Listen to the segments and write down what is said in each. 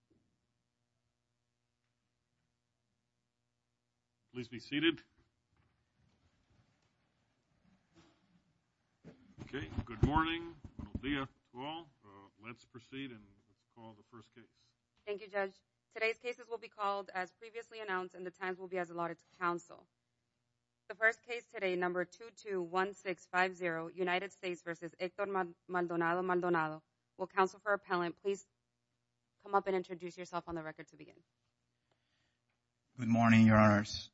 will counsel for appellant please come up and introduce yourself. Please be seated. Okay, good morning, buenos dias to all. Let's proceed and call the first case. Thank you, Judge. Today's cases will be called as previously announced and the times will be as allotted to counsel. The first case today, number 221650, United States v. Hector Maldonado-Maldonado, will counsel for appellant. Please come up and introduce yourself on the record to begin. Good morning, Your Honors.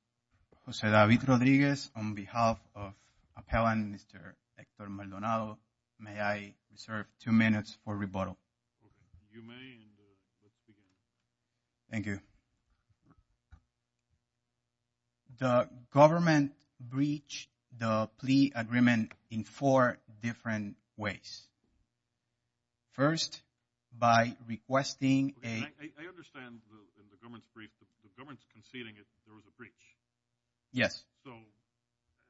Jose David Rodriguez on behalf of appellant, Mr. Hector Maldonado. May I reserve two minutes for rebuttal? You may and let's begin. Thank you. The government breached the plea agreement in four different ways. First, by requesting a… I understand the government's breach. The government's conceding there was a breach. Yes. So,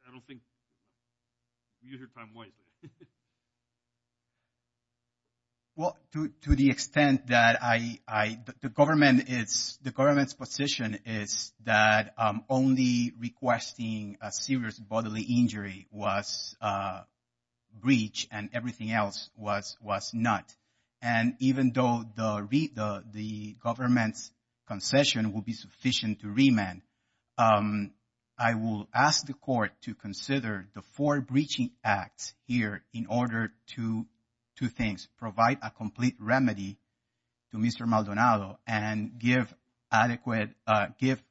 I don't think… Well, to the extent that the government's position is that only requesting a serious bodily injury was breached and everything else was not. And even though the government's concession will be sufficient to remand, I will ask the court to consider the four breaching acts here in order to, two things, provide a complete remedy to Mr. Maldonado and give adequate, give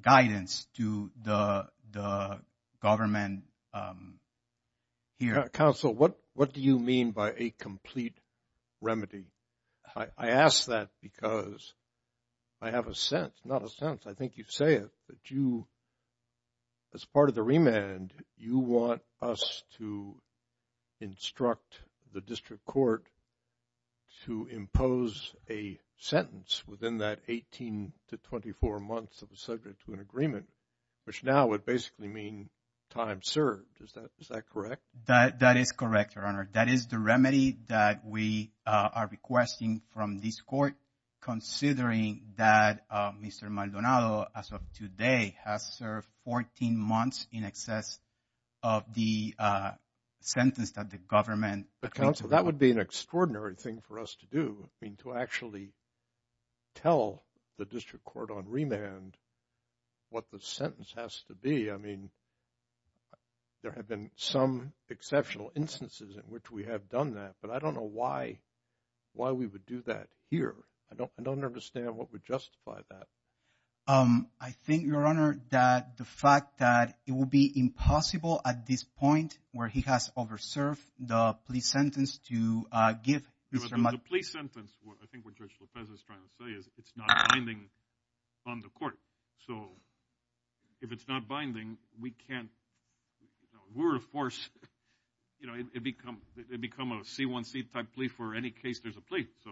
guidance to the government here. Counsel, what do you mean by a complete remedy? I ask that because I have a sense, not a sense, I think you say it, that you, as part of the remand, you want us to instruct the district court to impose a sentence within that 18 to 24 months of the subject to an agreement, which now would basically mean time served. Is that correct? That is correct, Your Honor. That is the remedy that we are requesting from this court considering that Mr. Maldonado, as of today, has served 14 months in excess of the sentence that the government… But, counsel, that would be an extraordinary thing for us to do, I mean, to actually tell the district court on remand what the sentence has to be. I mean, there have been some exceptional instances in which we have done that, but I don't know why we would do that here. I don't understand what would justify that. I think, Your Honor, that the fact that it would be impossible at this point where he has overserved the plea sentence to give Mr. Maldonado… The plea sentence, I think what Judge Lopez is trying to say is it's not binding on the court. So if it's not binding, we can't – we're a force. You know, it becomes a C1C type plea for any case there's a plea. So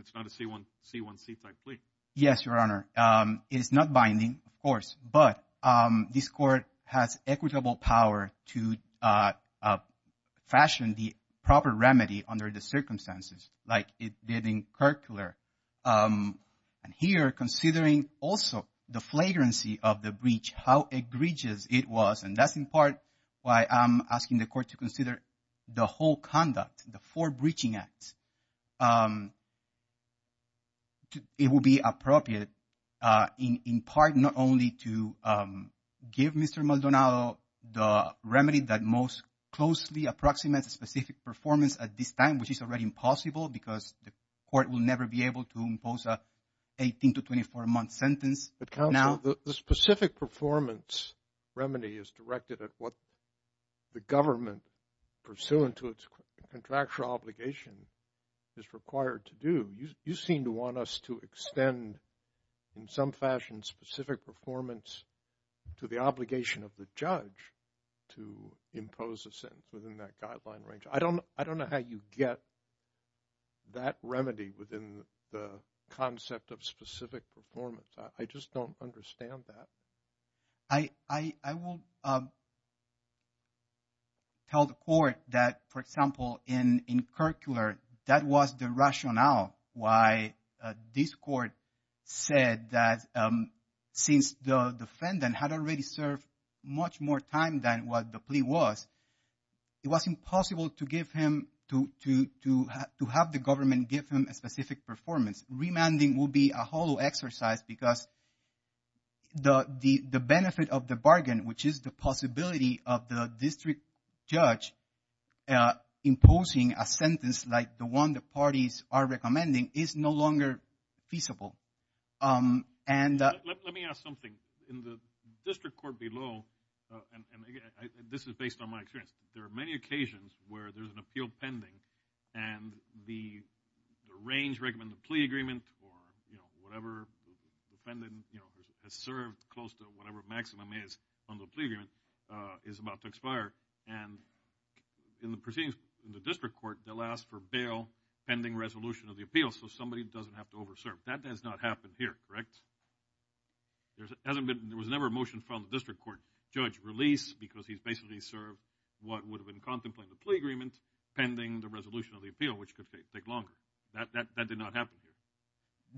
it's not a C1C type plea. Yes, Your Honor. It is not binding, of course, but this court has equitable power to fashion the proper remedy under the circumstances like it did in Kirkcular. And here, considering also the flagrancy of the breach, how egregious it was, and that's in part why I'm asking the court to consider the whole conduct, the four breaching acts, it would be appropriate in part not only to give Mr. Maldonado the remedy that most closely approximates a specific performance at this time, which is already impossible because the court will never be able to impose an 18 to 24-month sentence. But, counsel, the specific performance remedy is directed at what the government, pursuant to its contractual obligation, is required to do. You seem to want us to extend, in some fashion, specific performance to the obligation of the judge to impose a sentence within that guideline range. I don't know how you get that remedy within the concept of specific performance. I just don't understand that. I will tell the court that, for example, in Kirkcular, that was the rationale why this court said that since the defendant had already served much more time than what the plea was, it was impossible to give him, to have the government give him a specific performance. Remanding will be a hollow exercise because the benefit of the bargain, which is the possibility of the district judge imposing a sentence like the one the parties are recommending, is no longer feasible. Let me ask something. In the district court below, and this is based on my experience, there are many occasions where there's an appeal pending and the range recommended in the plea agreement or whatever defendant has served close to whatever maximum is on the plea agreement is about to expire. In the proceedings in the district court, they'll ask for bail pending resolution of the appeal so somebody doesn't have to over serve. That has not happened here, correct? There was never a motion from the district court. because he's basically served what would have been contemplated in the plea agreement pending the resolution of the appeal, which could take longer. That did not happen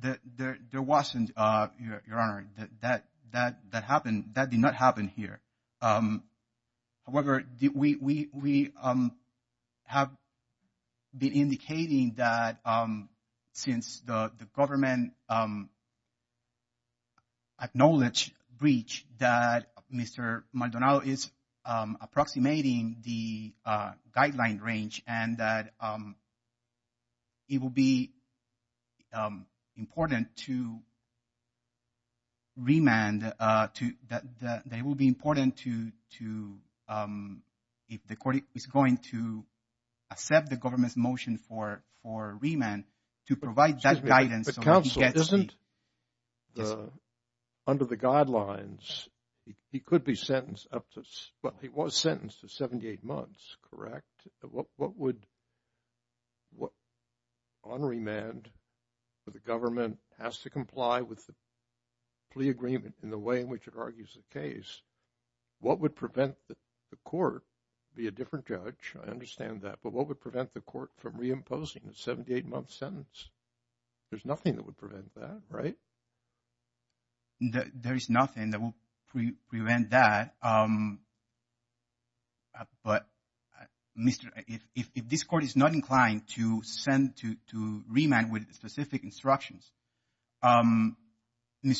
here. There wasn't, Your Honor. That did not happen here. However, we have been indicating that since the government acknowledged breach that Mr. Maldonado is approximating the guideline range and that it will be important to remand, that it will be important to, if the court is going to accept the government's motion for remand, to provide that guidance. Excuse me, but counsel isn't under the guidelines. He could be sentenced up to, well, he was sentenced to 78 months, correct? What would – on remand, the government has to comply with the plea agreement in the way in which it argues the case. What would prevent the court, be a different judge, I understand that, but what would prevent the court from reimposing a 78-month sentence? There's nothing that would prevent that, right? There is nothing that will prevent that, but if this court is not inclined to remand with specific instructions, Mr.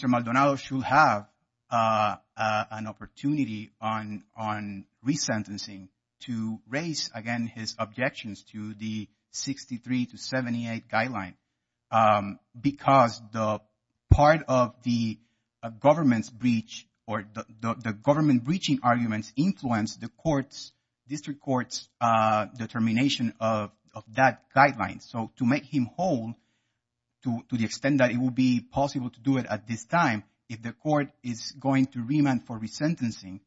Maldonado should have an opportunity on resentencing to raise again his objections to the 63 to 78 guideline because the part of the government's breach or the government breaching arguments influence the court's, district court's determination of that guideline. So to make him whole, to the extent that it will be possible to do it at this time, if the court is going to remand for resentencing,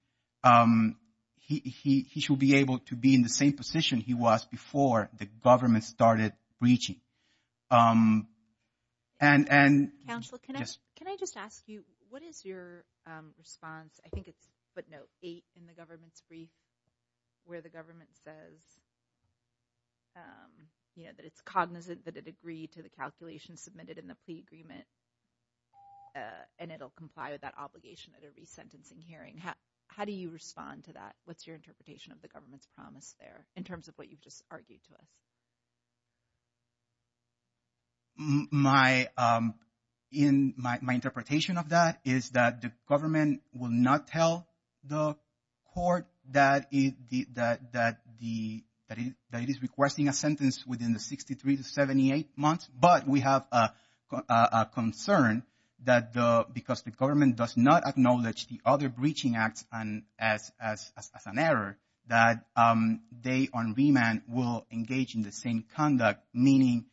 he should be able to be in the same position he was before the government started breaching. Counsel, can I just ask you, what is your response? I think it's footnote 8 in the government's brief where the government says that it's cognizant that it agreed to the calculations submitted in the plea agreement and it'll comply with that obligation at a resentencing hearing. How do you respond to that? What's your interpretation of the government's promise there in terms of what you've just argued to us? My interpretation of that is that the government will not tell the court that it is requesting a sentence within the 63 to 78 months, but we have a concern that because the government does not acknowledge the other breaching acts as an error, that they on remand will engage in the same conduct, meaning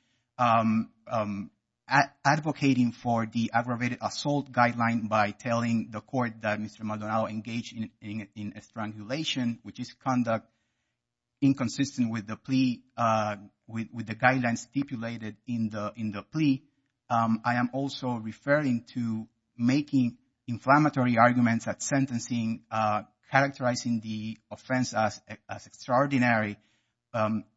advocating for the aggravated assault guideline by telling the court that Mr. Maldonado engaged in strangulation, which is conduct inconsistent with the plea, with the guidelines stipulated in the plea. I am also referring to making inflammatory arguments at sentencing, characterizing the offense as extraordinary,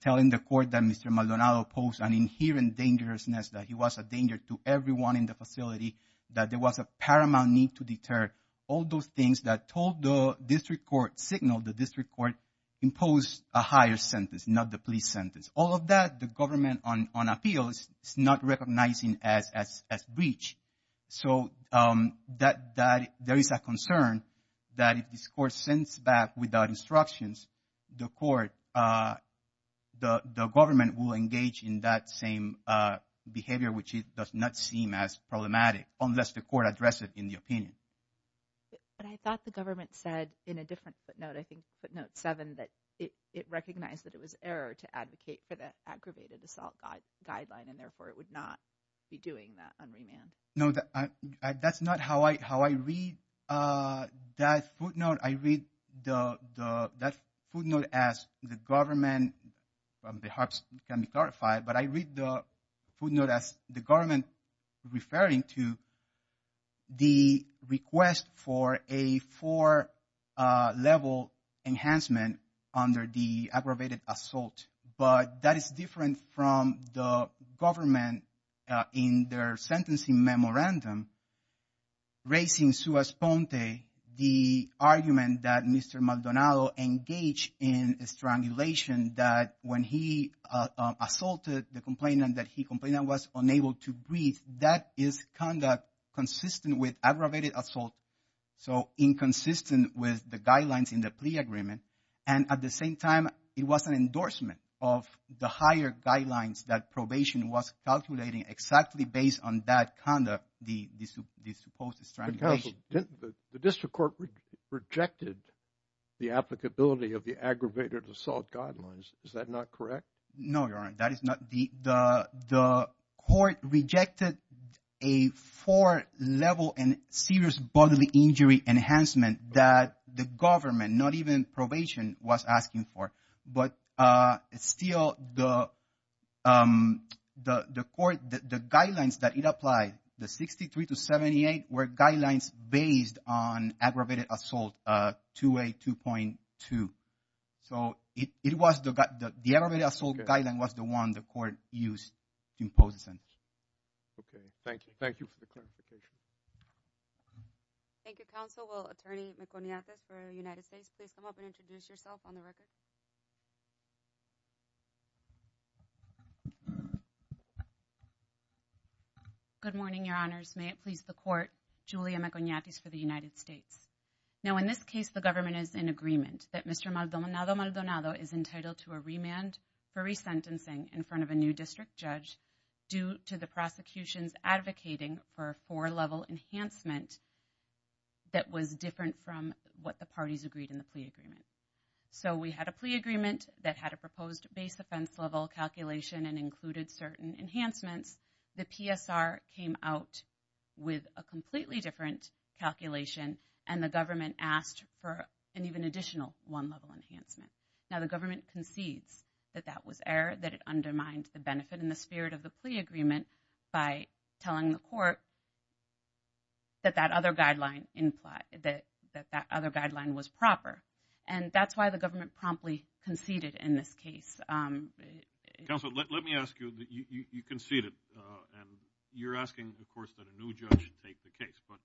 telling the court that Mr. Maldonado posed an inherent dangerousness, that he was a danger to everyone in the facility, that there was a paramount need to deter all those things that told the district court, signaled the district court, imposed a higher sentence, not the plea sentence. All of that the government on appeal is not recognizing as breach. So there is a concern that if this court sends back without instructions, the court, the government will engage in that same behavior, which does not seem as problematic, unless the court addressed it in the opinion. But I thought the government said in a different footnote, I think footnote seven, that it recognized that it was error to advocate for the aggravated assault guideline, and therefore it would not be doing that on remand. No, that's not how I read that footnote. I read that footnote as the government, perhaps it can be clarified, but I read the footnote as the government referring to the request for a four-level enhancement under the aggravated assault. But that is different from the government in their sentencing memorandum, raising Suas Ponte, the argument that Mr. Maldonado engaged in strangulation, that when he assaulted the complainant, that he complained that he was unable to breathe. That is conduct consistent with aggravated assault. So inconsistent with the guidelines in the plea agreement. And at the same time, it was an endorsement of the higher guidelines that probation was calculating exactly based on that conduct, the supposed strangulation. The district court rejected the applicability of the aggravated assault guidelines. Is that not correct? No, Your Honor, that is not. The court rejected a four-level and serious bodily injury enhancement that the government, not even probation, was asking for. But still, the court, the guidelines that it applied, the 63 to 78, were guidelines based on aggravated assault, 2A2.2. So the aggravated assault guideline was the one the court used to impose the sentence. Okay, thank you. Thank you for the clarification. Thank you, counsel. Will Attorney Meconiatis for the United States please come up and introduce yourself on the record? Good morning, Your Honors. May it please the court, Julia Meconiatis for the United States. Now, in this case, the government is in agreement that Mr. Maldonado Maldonado is entitled to a remand for resentencing in front of a new district judge due to the prosecution's advocating for a four-level enhancement that was different from what the parties agreed in the plea agreement. So we had a plea agreement that had a proposed base offense level calculation and included certain enhancements. The PSR came out with a completely different calculation, and the government asked for an even additional one-level enhancement. Now, the government concedes that that was error, that it undermined the benefit and the spirit of the plea agreement by telling the court that that other guideline was proper. And that's why the government promptly conceded in this case. Counsel, let me ask you. You conceded, and you're asking, of course, that a new judge take the case. But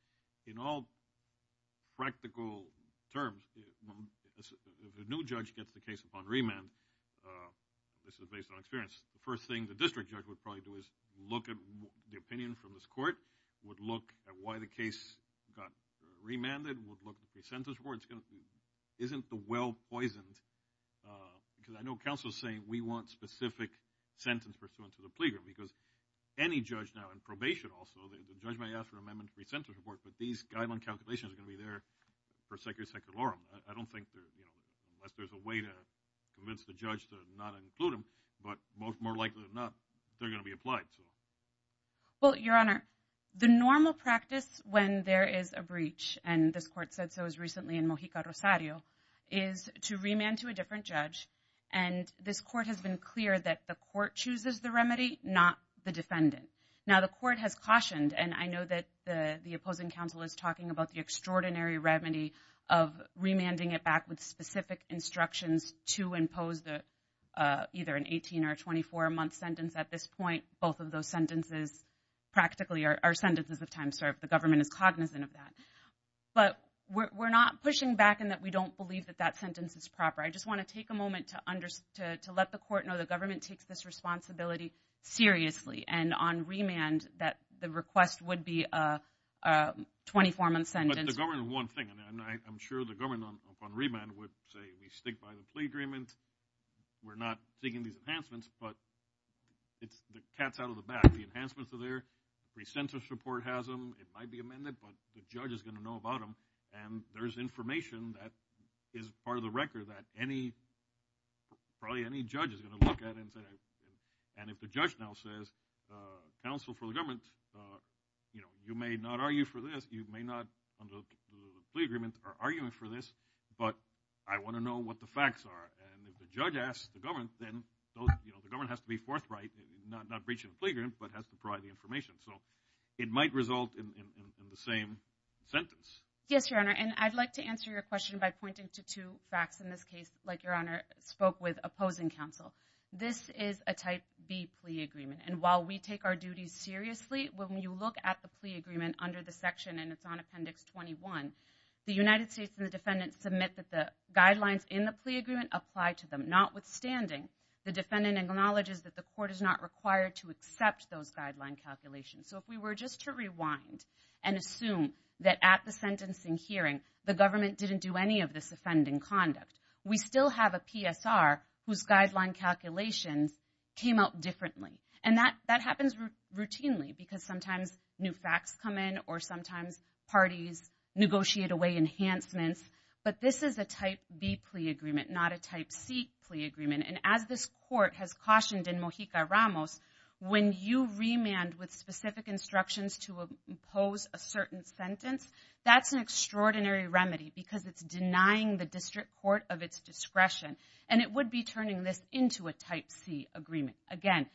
in all practical terms, the new judge gets the case upon remand. This is based on experience. The first thing the district judge would probably do is look at the opinion from this court, would look at why the case got remanded, would look at the sentence report. Isn't the well-poisoned, because I know counsel is saying, we want specific sentence pursuant to the plea agreement, because any judge now in probation also, the judge might ask for an amendment to the sentence report, but these guideline calculations are going to be there for secular. I don't think there's a way to convince the judge to not include them, but more likely than not, they're going to be applied to them. Well, Your Honor, the normal practice when there is a breach, and this court said so as recently in Mojica Rosario, is to remand to a different judge, and this court has been clear that the court chooses the remedy, not the defendant. Now, the court has cautioned, and I know that the opposing counsel is talking about the extraordinary remedy of remanding it back with specific instructions to impose either an 18 or 24-month sentence. At this point, both of those sentences practically are sentences of time served. The government is cognizant of that. But we're not pushing back in that we don't believe that that sentence is proper. I just want to take a moment to let the court know the government takes this responsibility seriously, and on remand that the request would be a 24-month sentence. But the government is one thing, and I'm sure the government on remand would say we stick by the plea agreement. We're not seeking these enhancements, but the cat's out of the bag. The enhancements are there. Pre-sentence report has them. It might be amended, but the judge is going to know about them, and there's information that is part of the record that probably any judge is going to look at and say, and if the judge now says counsel for the government, you may not argue for this. You may not, under the plea agreement, are arguing for this, but I want to know what the facts are. And if the judge asks the government, then the government has to be forthright, not breach of the plea agreement, but has to provide the information. So it might result in the same sentence. Yes, Your Honor, and I'd like to answer your question by pointing to two facts in this case, like Your Honor spoke with opposing counsel. This is a Type B plea agreement, and while we take our duties seriously, when you look at the plea agreement under the section, and it's on Appendix 21, the United States and the defendant submit that the guidelines in the plea agreement apply to them. Notwithstanding, the defendant acknowledges that the court is not required to accept those guideline calculations. So if we were just to rewind and assume that at the sentencing hearing, the government didn't do any of this offending conduct, we still have a PSR whose guideline calculations came out differently. And that happens routinely, because sometimes new facts come in, or sometimes parties negotiate away enhancements. But this is a Type B plea agreement, not a Type C plea agreement. And as this court has cautioned in Mojica-Ramos, when you remand with specific instructions to impose a certain sentence, that's an extraordinary remedy, because it's denying the district court of its discretion, and it would be turning this into a Type C agreement. Again,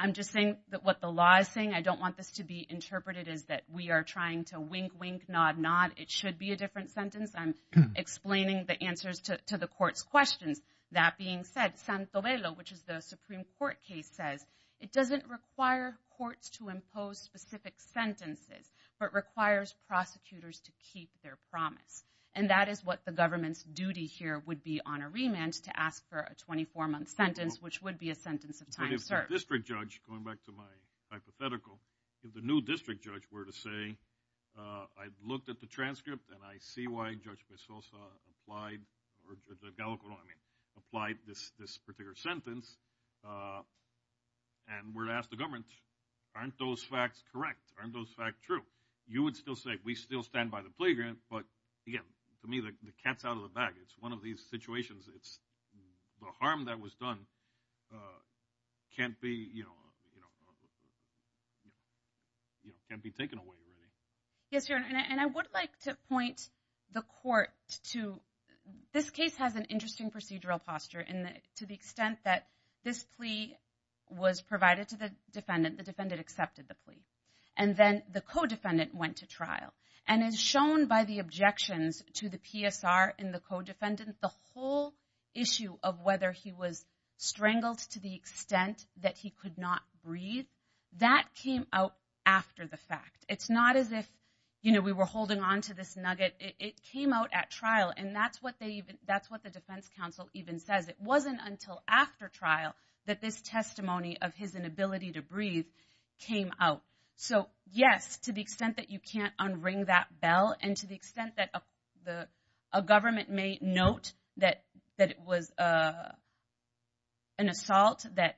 I'm just saying that what the law is saying. I don't want this to be interpreted as that we are trying to wink, wink, nod, nod. It should be a different sentence. I'm explaining the answers to the court's questions. That being said, San Tobelo, which is the Supreme Court case, says it doesn't require courts to impose specific sentences, but requires prosecutors to keep their promise. And that is what the government's duty here would be on a remand, to ask for a 24-month sentence, which would be a sentence of time served. But if the district judge, going back to my hypothetical, if the new district judge were to say, I looked at the transcript, and I see why Judge Pesosa applied this particular sentence, and were to ask the government, aren't those facts correct? Aren't those facts true? You would still say, we still stand by the plea grant, but, again, to me, the cat's out of the bag. It's one of these situations. The harm that was done can't be taken away, really. Yes, Your Honor, and I would like to point the court to, this case has an interesting procedural posture, to the extent that this plea was provided to the defendant, the defendant accepted the plea. And then the co-defendant went to trial. And as shown by the objections to the PSR in the co-defendant, the whole issue of whether he was strangled to the extent that he could not breathe, that came out after the fact. It's not as if we were holding onto this nugget. It came out at trial, and that's what the defense counsel even says. It wasn't until after trial that this testimony of his inability to breathe came out. So, yes, to the extent that you can't unring that bell, and to the extent that a government may note that it was an assault that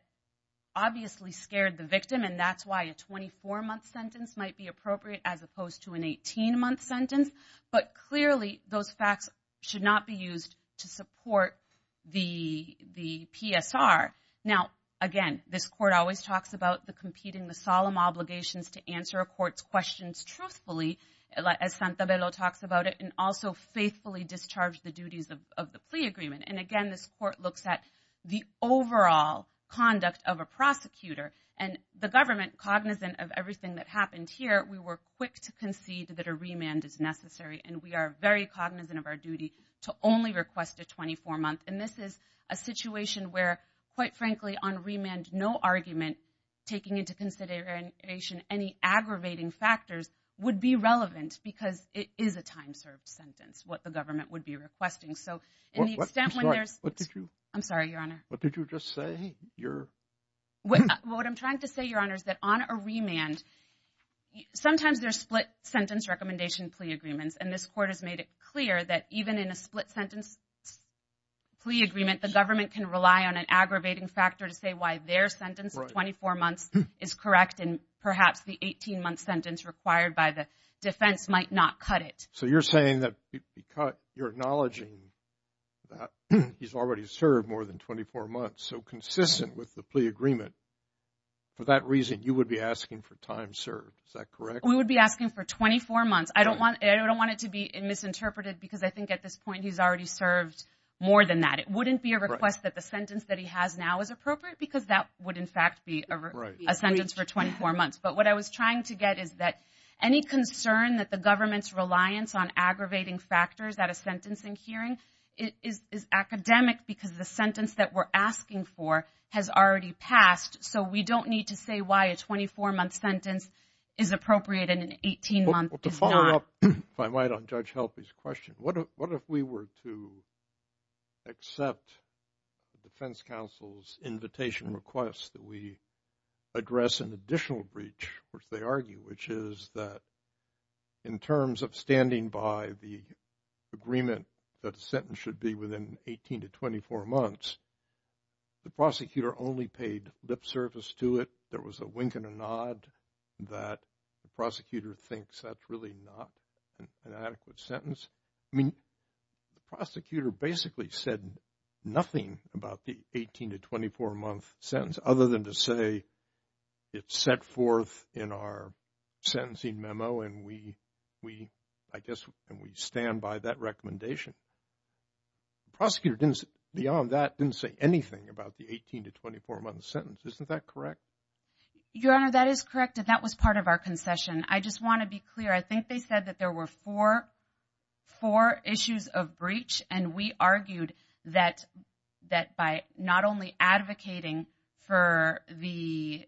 obviously scared the victim, and that's why a 24-month sentence might be appropriate as opposed to an 18-month sentence. But, clearly, those facts should not be used to support the PSR. Now, again, this court always talks about the competing, the solemn obligations to answer a court's questions truthfully, as Santabello talks about it, and also faithfully discharge the duties of the plea agreement. And, again, this court looks at the overall conduct of a prosecutor. And the government, cognizant of everything that happened here, we were quick to concede that a remand is necessary, and we are very cognizant of our duty to only request a 24-month. And this is a situation where, quite frankly, on remand, no argument taking into consideration any aggravating factors would be relevant because it is a time-served sentence, what the government would be requesting. So, in the extent when there's... I'm sorry, Your Honor. What did you just say? What I'm trying to say, Your Honor, is that on a remand, sometimes there's split-sentence recommendation plea agreements, and this court has made it clear that even in a split-sentence plea agreement, the government can rely on an aggravating factor to say why their sentence of 24 months is correct, and perhaps the 18-month sentence required by the defense might not cut it. So you're saying that because you're acknowledging that he's already served more than 24 months, so consistent with the plea agreement, for that reason you would be asking for time served. Is that correct? We would be asking for 24 months. I don't want it to be misinterpreted because I think at this point he's already served more than that. It wouldn't be a request that the sentence that he has now is appropriate because that would, in fact, be a sentence for 24 months. But what I was trying to get is that any concern that the government's reliance on aggravating factors at a sentencing hearing is academic because the sentence that we're asking for has already passed, so we don't need to say why a 24-month sentence is appropriate and an 18-month is not. To follow up, if I might, on Judge Helpe's question, what if we were to accept the defense counsel's invitation request that we address an additional breach, which they argue, which is that in terms of standing by the agreement that a sentence should be within 18 to 24 months, the prosecutor only paid lip service to it. There was a wink and a nod that the prosecutor thinks that's really not an adequate sentence. I mean, the prosecutor basically said nothing about the 18 to 24-month sentence other than to say it's set forth in our sentencing memo and we stand by that recommendation. The prosecutor, beyond that, didn't say anything about the 18 to 24-month sentence. Isn't that correct? Your Honor, that is correct, and that was part of our concession. I just want to be clear. I think they said that there were four issues of breach, and we argued that by not only advocating for the,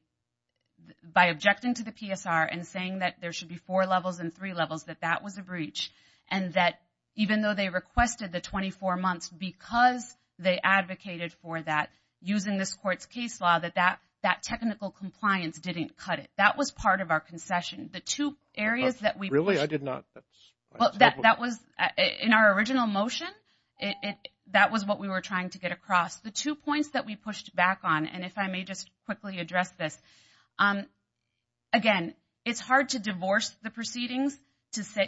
by objecting to the PSR and saying that there should be four levels and three levels, that that was a breach and that even though they requested the 24 months because they advocated for that using this Court's case law, that that technical compliance didn't cut it. That was part of our concession. The two areas that we pushed. Really? I did not. That was, in our original motion, that was what we were trying to get across. The two points that we pushed back on, and if I may just quickly address this, again, it's hard to divorce the proceedings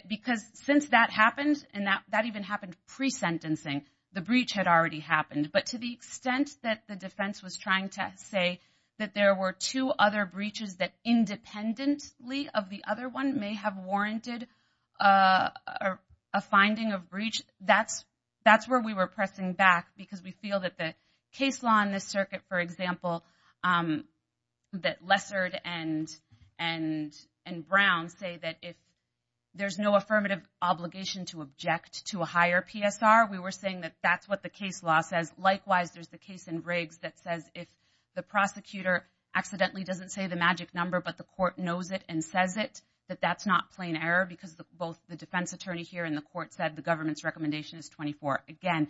because since that happened and that even happened pre-sentencing, the breach had already happened. But to the extent that the defense was trying to say that there were two other breaches that independently of the other one may have warranted a finding of breach, that's where we were pressing back because we feel that the case law in this circuit, for example, that Lessard and Brown say that if there's no affirmative obligation to object to a higher PSR, we were saying that that's what the case law says. Likewise, there's the case in Riggs that says if the prosecutor accidentally doesn't say the magic number but the court knows it and says it, that that's not plain error because both the defense attorney here and the court said the government's recommendation is 24. Again,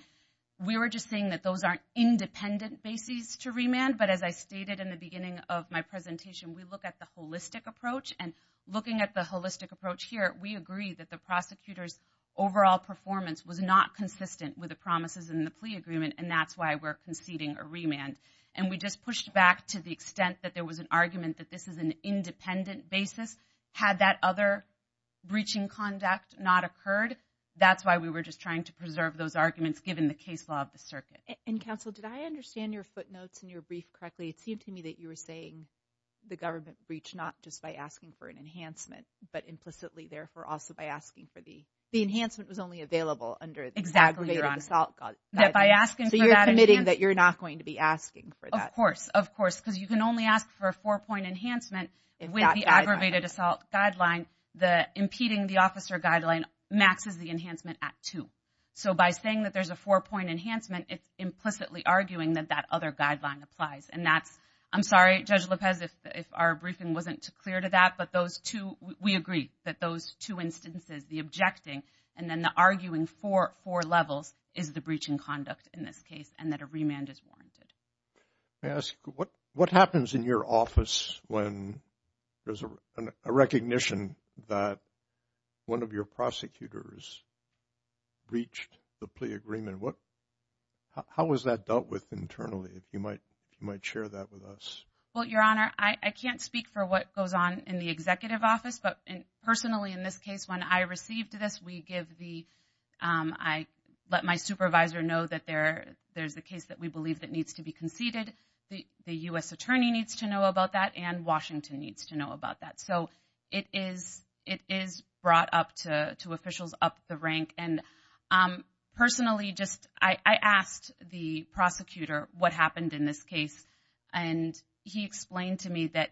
we were just saying that those aren't independent bases to remand, but as I stated in the beginning of my presentation, we look at the holistic approach, and looking at the holistic approach here, we agree that the prosecutor's overall performance was not consistent with the promises in the plea agreement, and that's why we're conceding a remand. And we just pushed back to the extent that there was an argument that this is an independent basis. Had that other breaching conduct not occurred, that's why we were just trying to preserve those arguments given the case law of the circuit. And, counsel, did I understand your footnotes in your brief correctly? It seemed to me that you were saying the government breached not just by asking for an enhancement but implicitly, therefore, also by asking for the... The enhancement was only available under the aggravated assault guideline. So you're committing that you're not going to be asking for that? Of course, of course, because you can only ask for a four-point enhancement with the aggravated assault guideline. Impeding the officer guideline maxes the enhancement at two. So by saying that there's a four-point enhancement, it's implicitly arguing that that other guideline applies, and that's... I'm sorry, Judge Lopez, if our briefing wasn't clear to that, but those two, we agree that those two instances, the objecting and then the arguing for four levels is the breaching conduct in this case and that a remand is warranted. May I ask, what happens in your office when there's a recognition that one of your prosecutors breached the plea agreement? How is that dealt with internally? If you might share that with us. Well, Your Honor, I can't speak for what goes on in the executive office, but personally in this case, when I received this, we give the... I let my supervisor know that there's a case that we believe that needs to be conceded. The U.S. attorney needs to know about that and Washington needs to know about that. So it is brought up to officials up the rank. Personally, I asked the prosecutor what happened in this case, and he explained to me that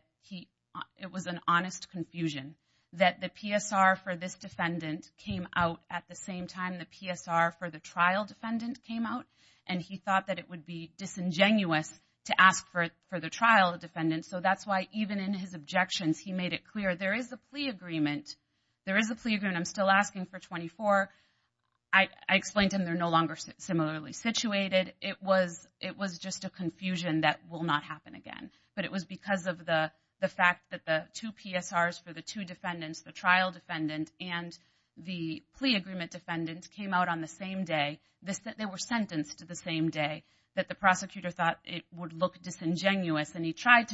it was an honest confusion, that the PSR for this defendant came out at the same time the PSR for the trial defendant came out, and he thought that it would be disingenuous to ask for the trial defendant. So that's why even in his objections, he made it clear there is a plea agreement. There is a plea agreement. I'm still asking for 24. I explained to him they're no longer similarly situated. It was just a confusion that will not happen again, but it was because of the fact that the two PSRs for the two defendants, the trial defendant and the plea agreement defendant, came out on the same day. They were sentenced the same day, that the prosecutor thought it would look disingenuous, and he tried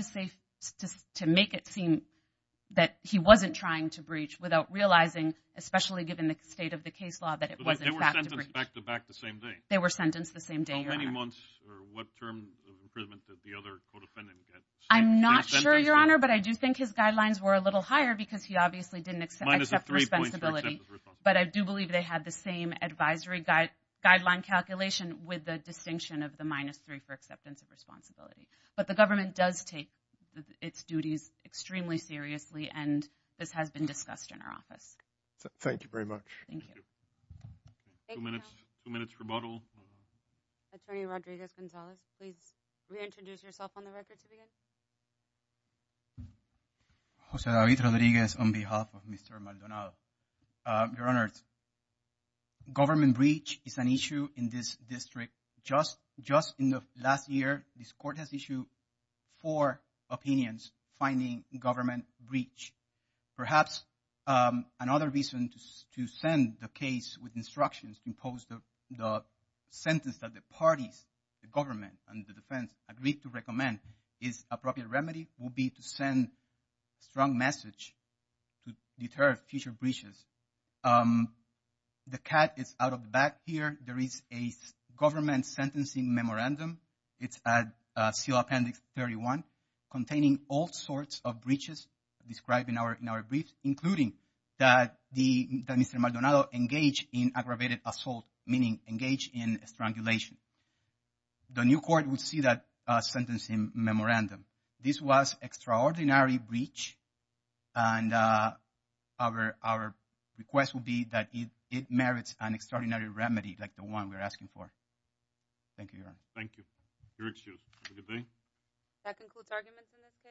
to make it seem that he wasn't trying to breach without realizing, especially given the state of the case law, that it was in fact a breach. They were sentenced the same day? They were sentenced the same day, Your Honor. How many months or what term of imprisonment did the other co-defendant get? I'm not sure, Your Honor, but I do think his guidelines were a little higher because he obviously didn't accept responsibility, but I do believe they had the same advisory guideline calculation with the distinction of the minus three for acceptance of responsibility. But the government does take its duties extremely seriously, and this has been discussed in our office. Thank you very much. Thank you. Two minutes rebuttal. Attorney Rodriguez-Gonzalez, please reintroduce yourself on the record to begin. Jose David Rodriguez on behalf of Mr. Maldonado. Your Honor, government breach is an issue in this district. Just in the last year, this court has issued four opinions finding government breach. Perhaps another reason to send the case with instructions to impose the sentence that the parties, the government and the defense, agreed to recommend is appropriate remedy would be to send strong message to deter future breaches. The cat is out of the bag here. There is a government sentencing memorandum. It's at seal appendix 31 containing all sorts of breaches described in our brief, including that Mr. Maldonado engaged in aggravated assault, meaning engaged in strangulation. The new court would see that sentencing memorandum. This was extraordinary breach, and our request would be that it merits an extraordinary remedy like the one we're asking for. Thank you, Your Honor. Thank you. You're excused. Have a good day. That concludes arguments in this case.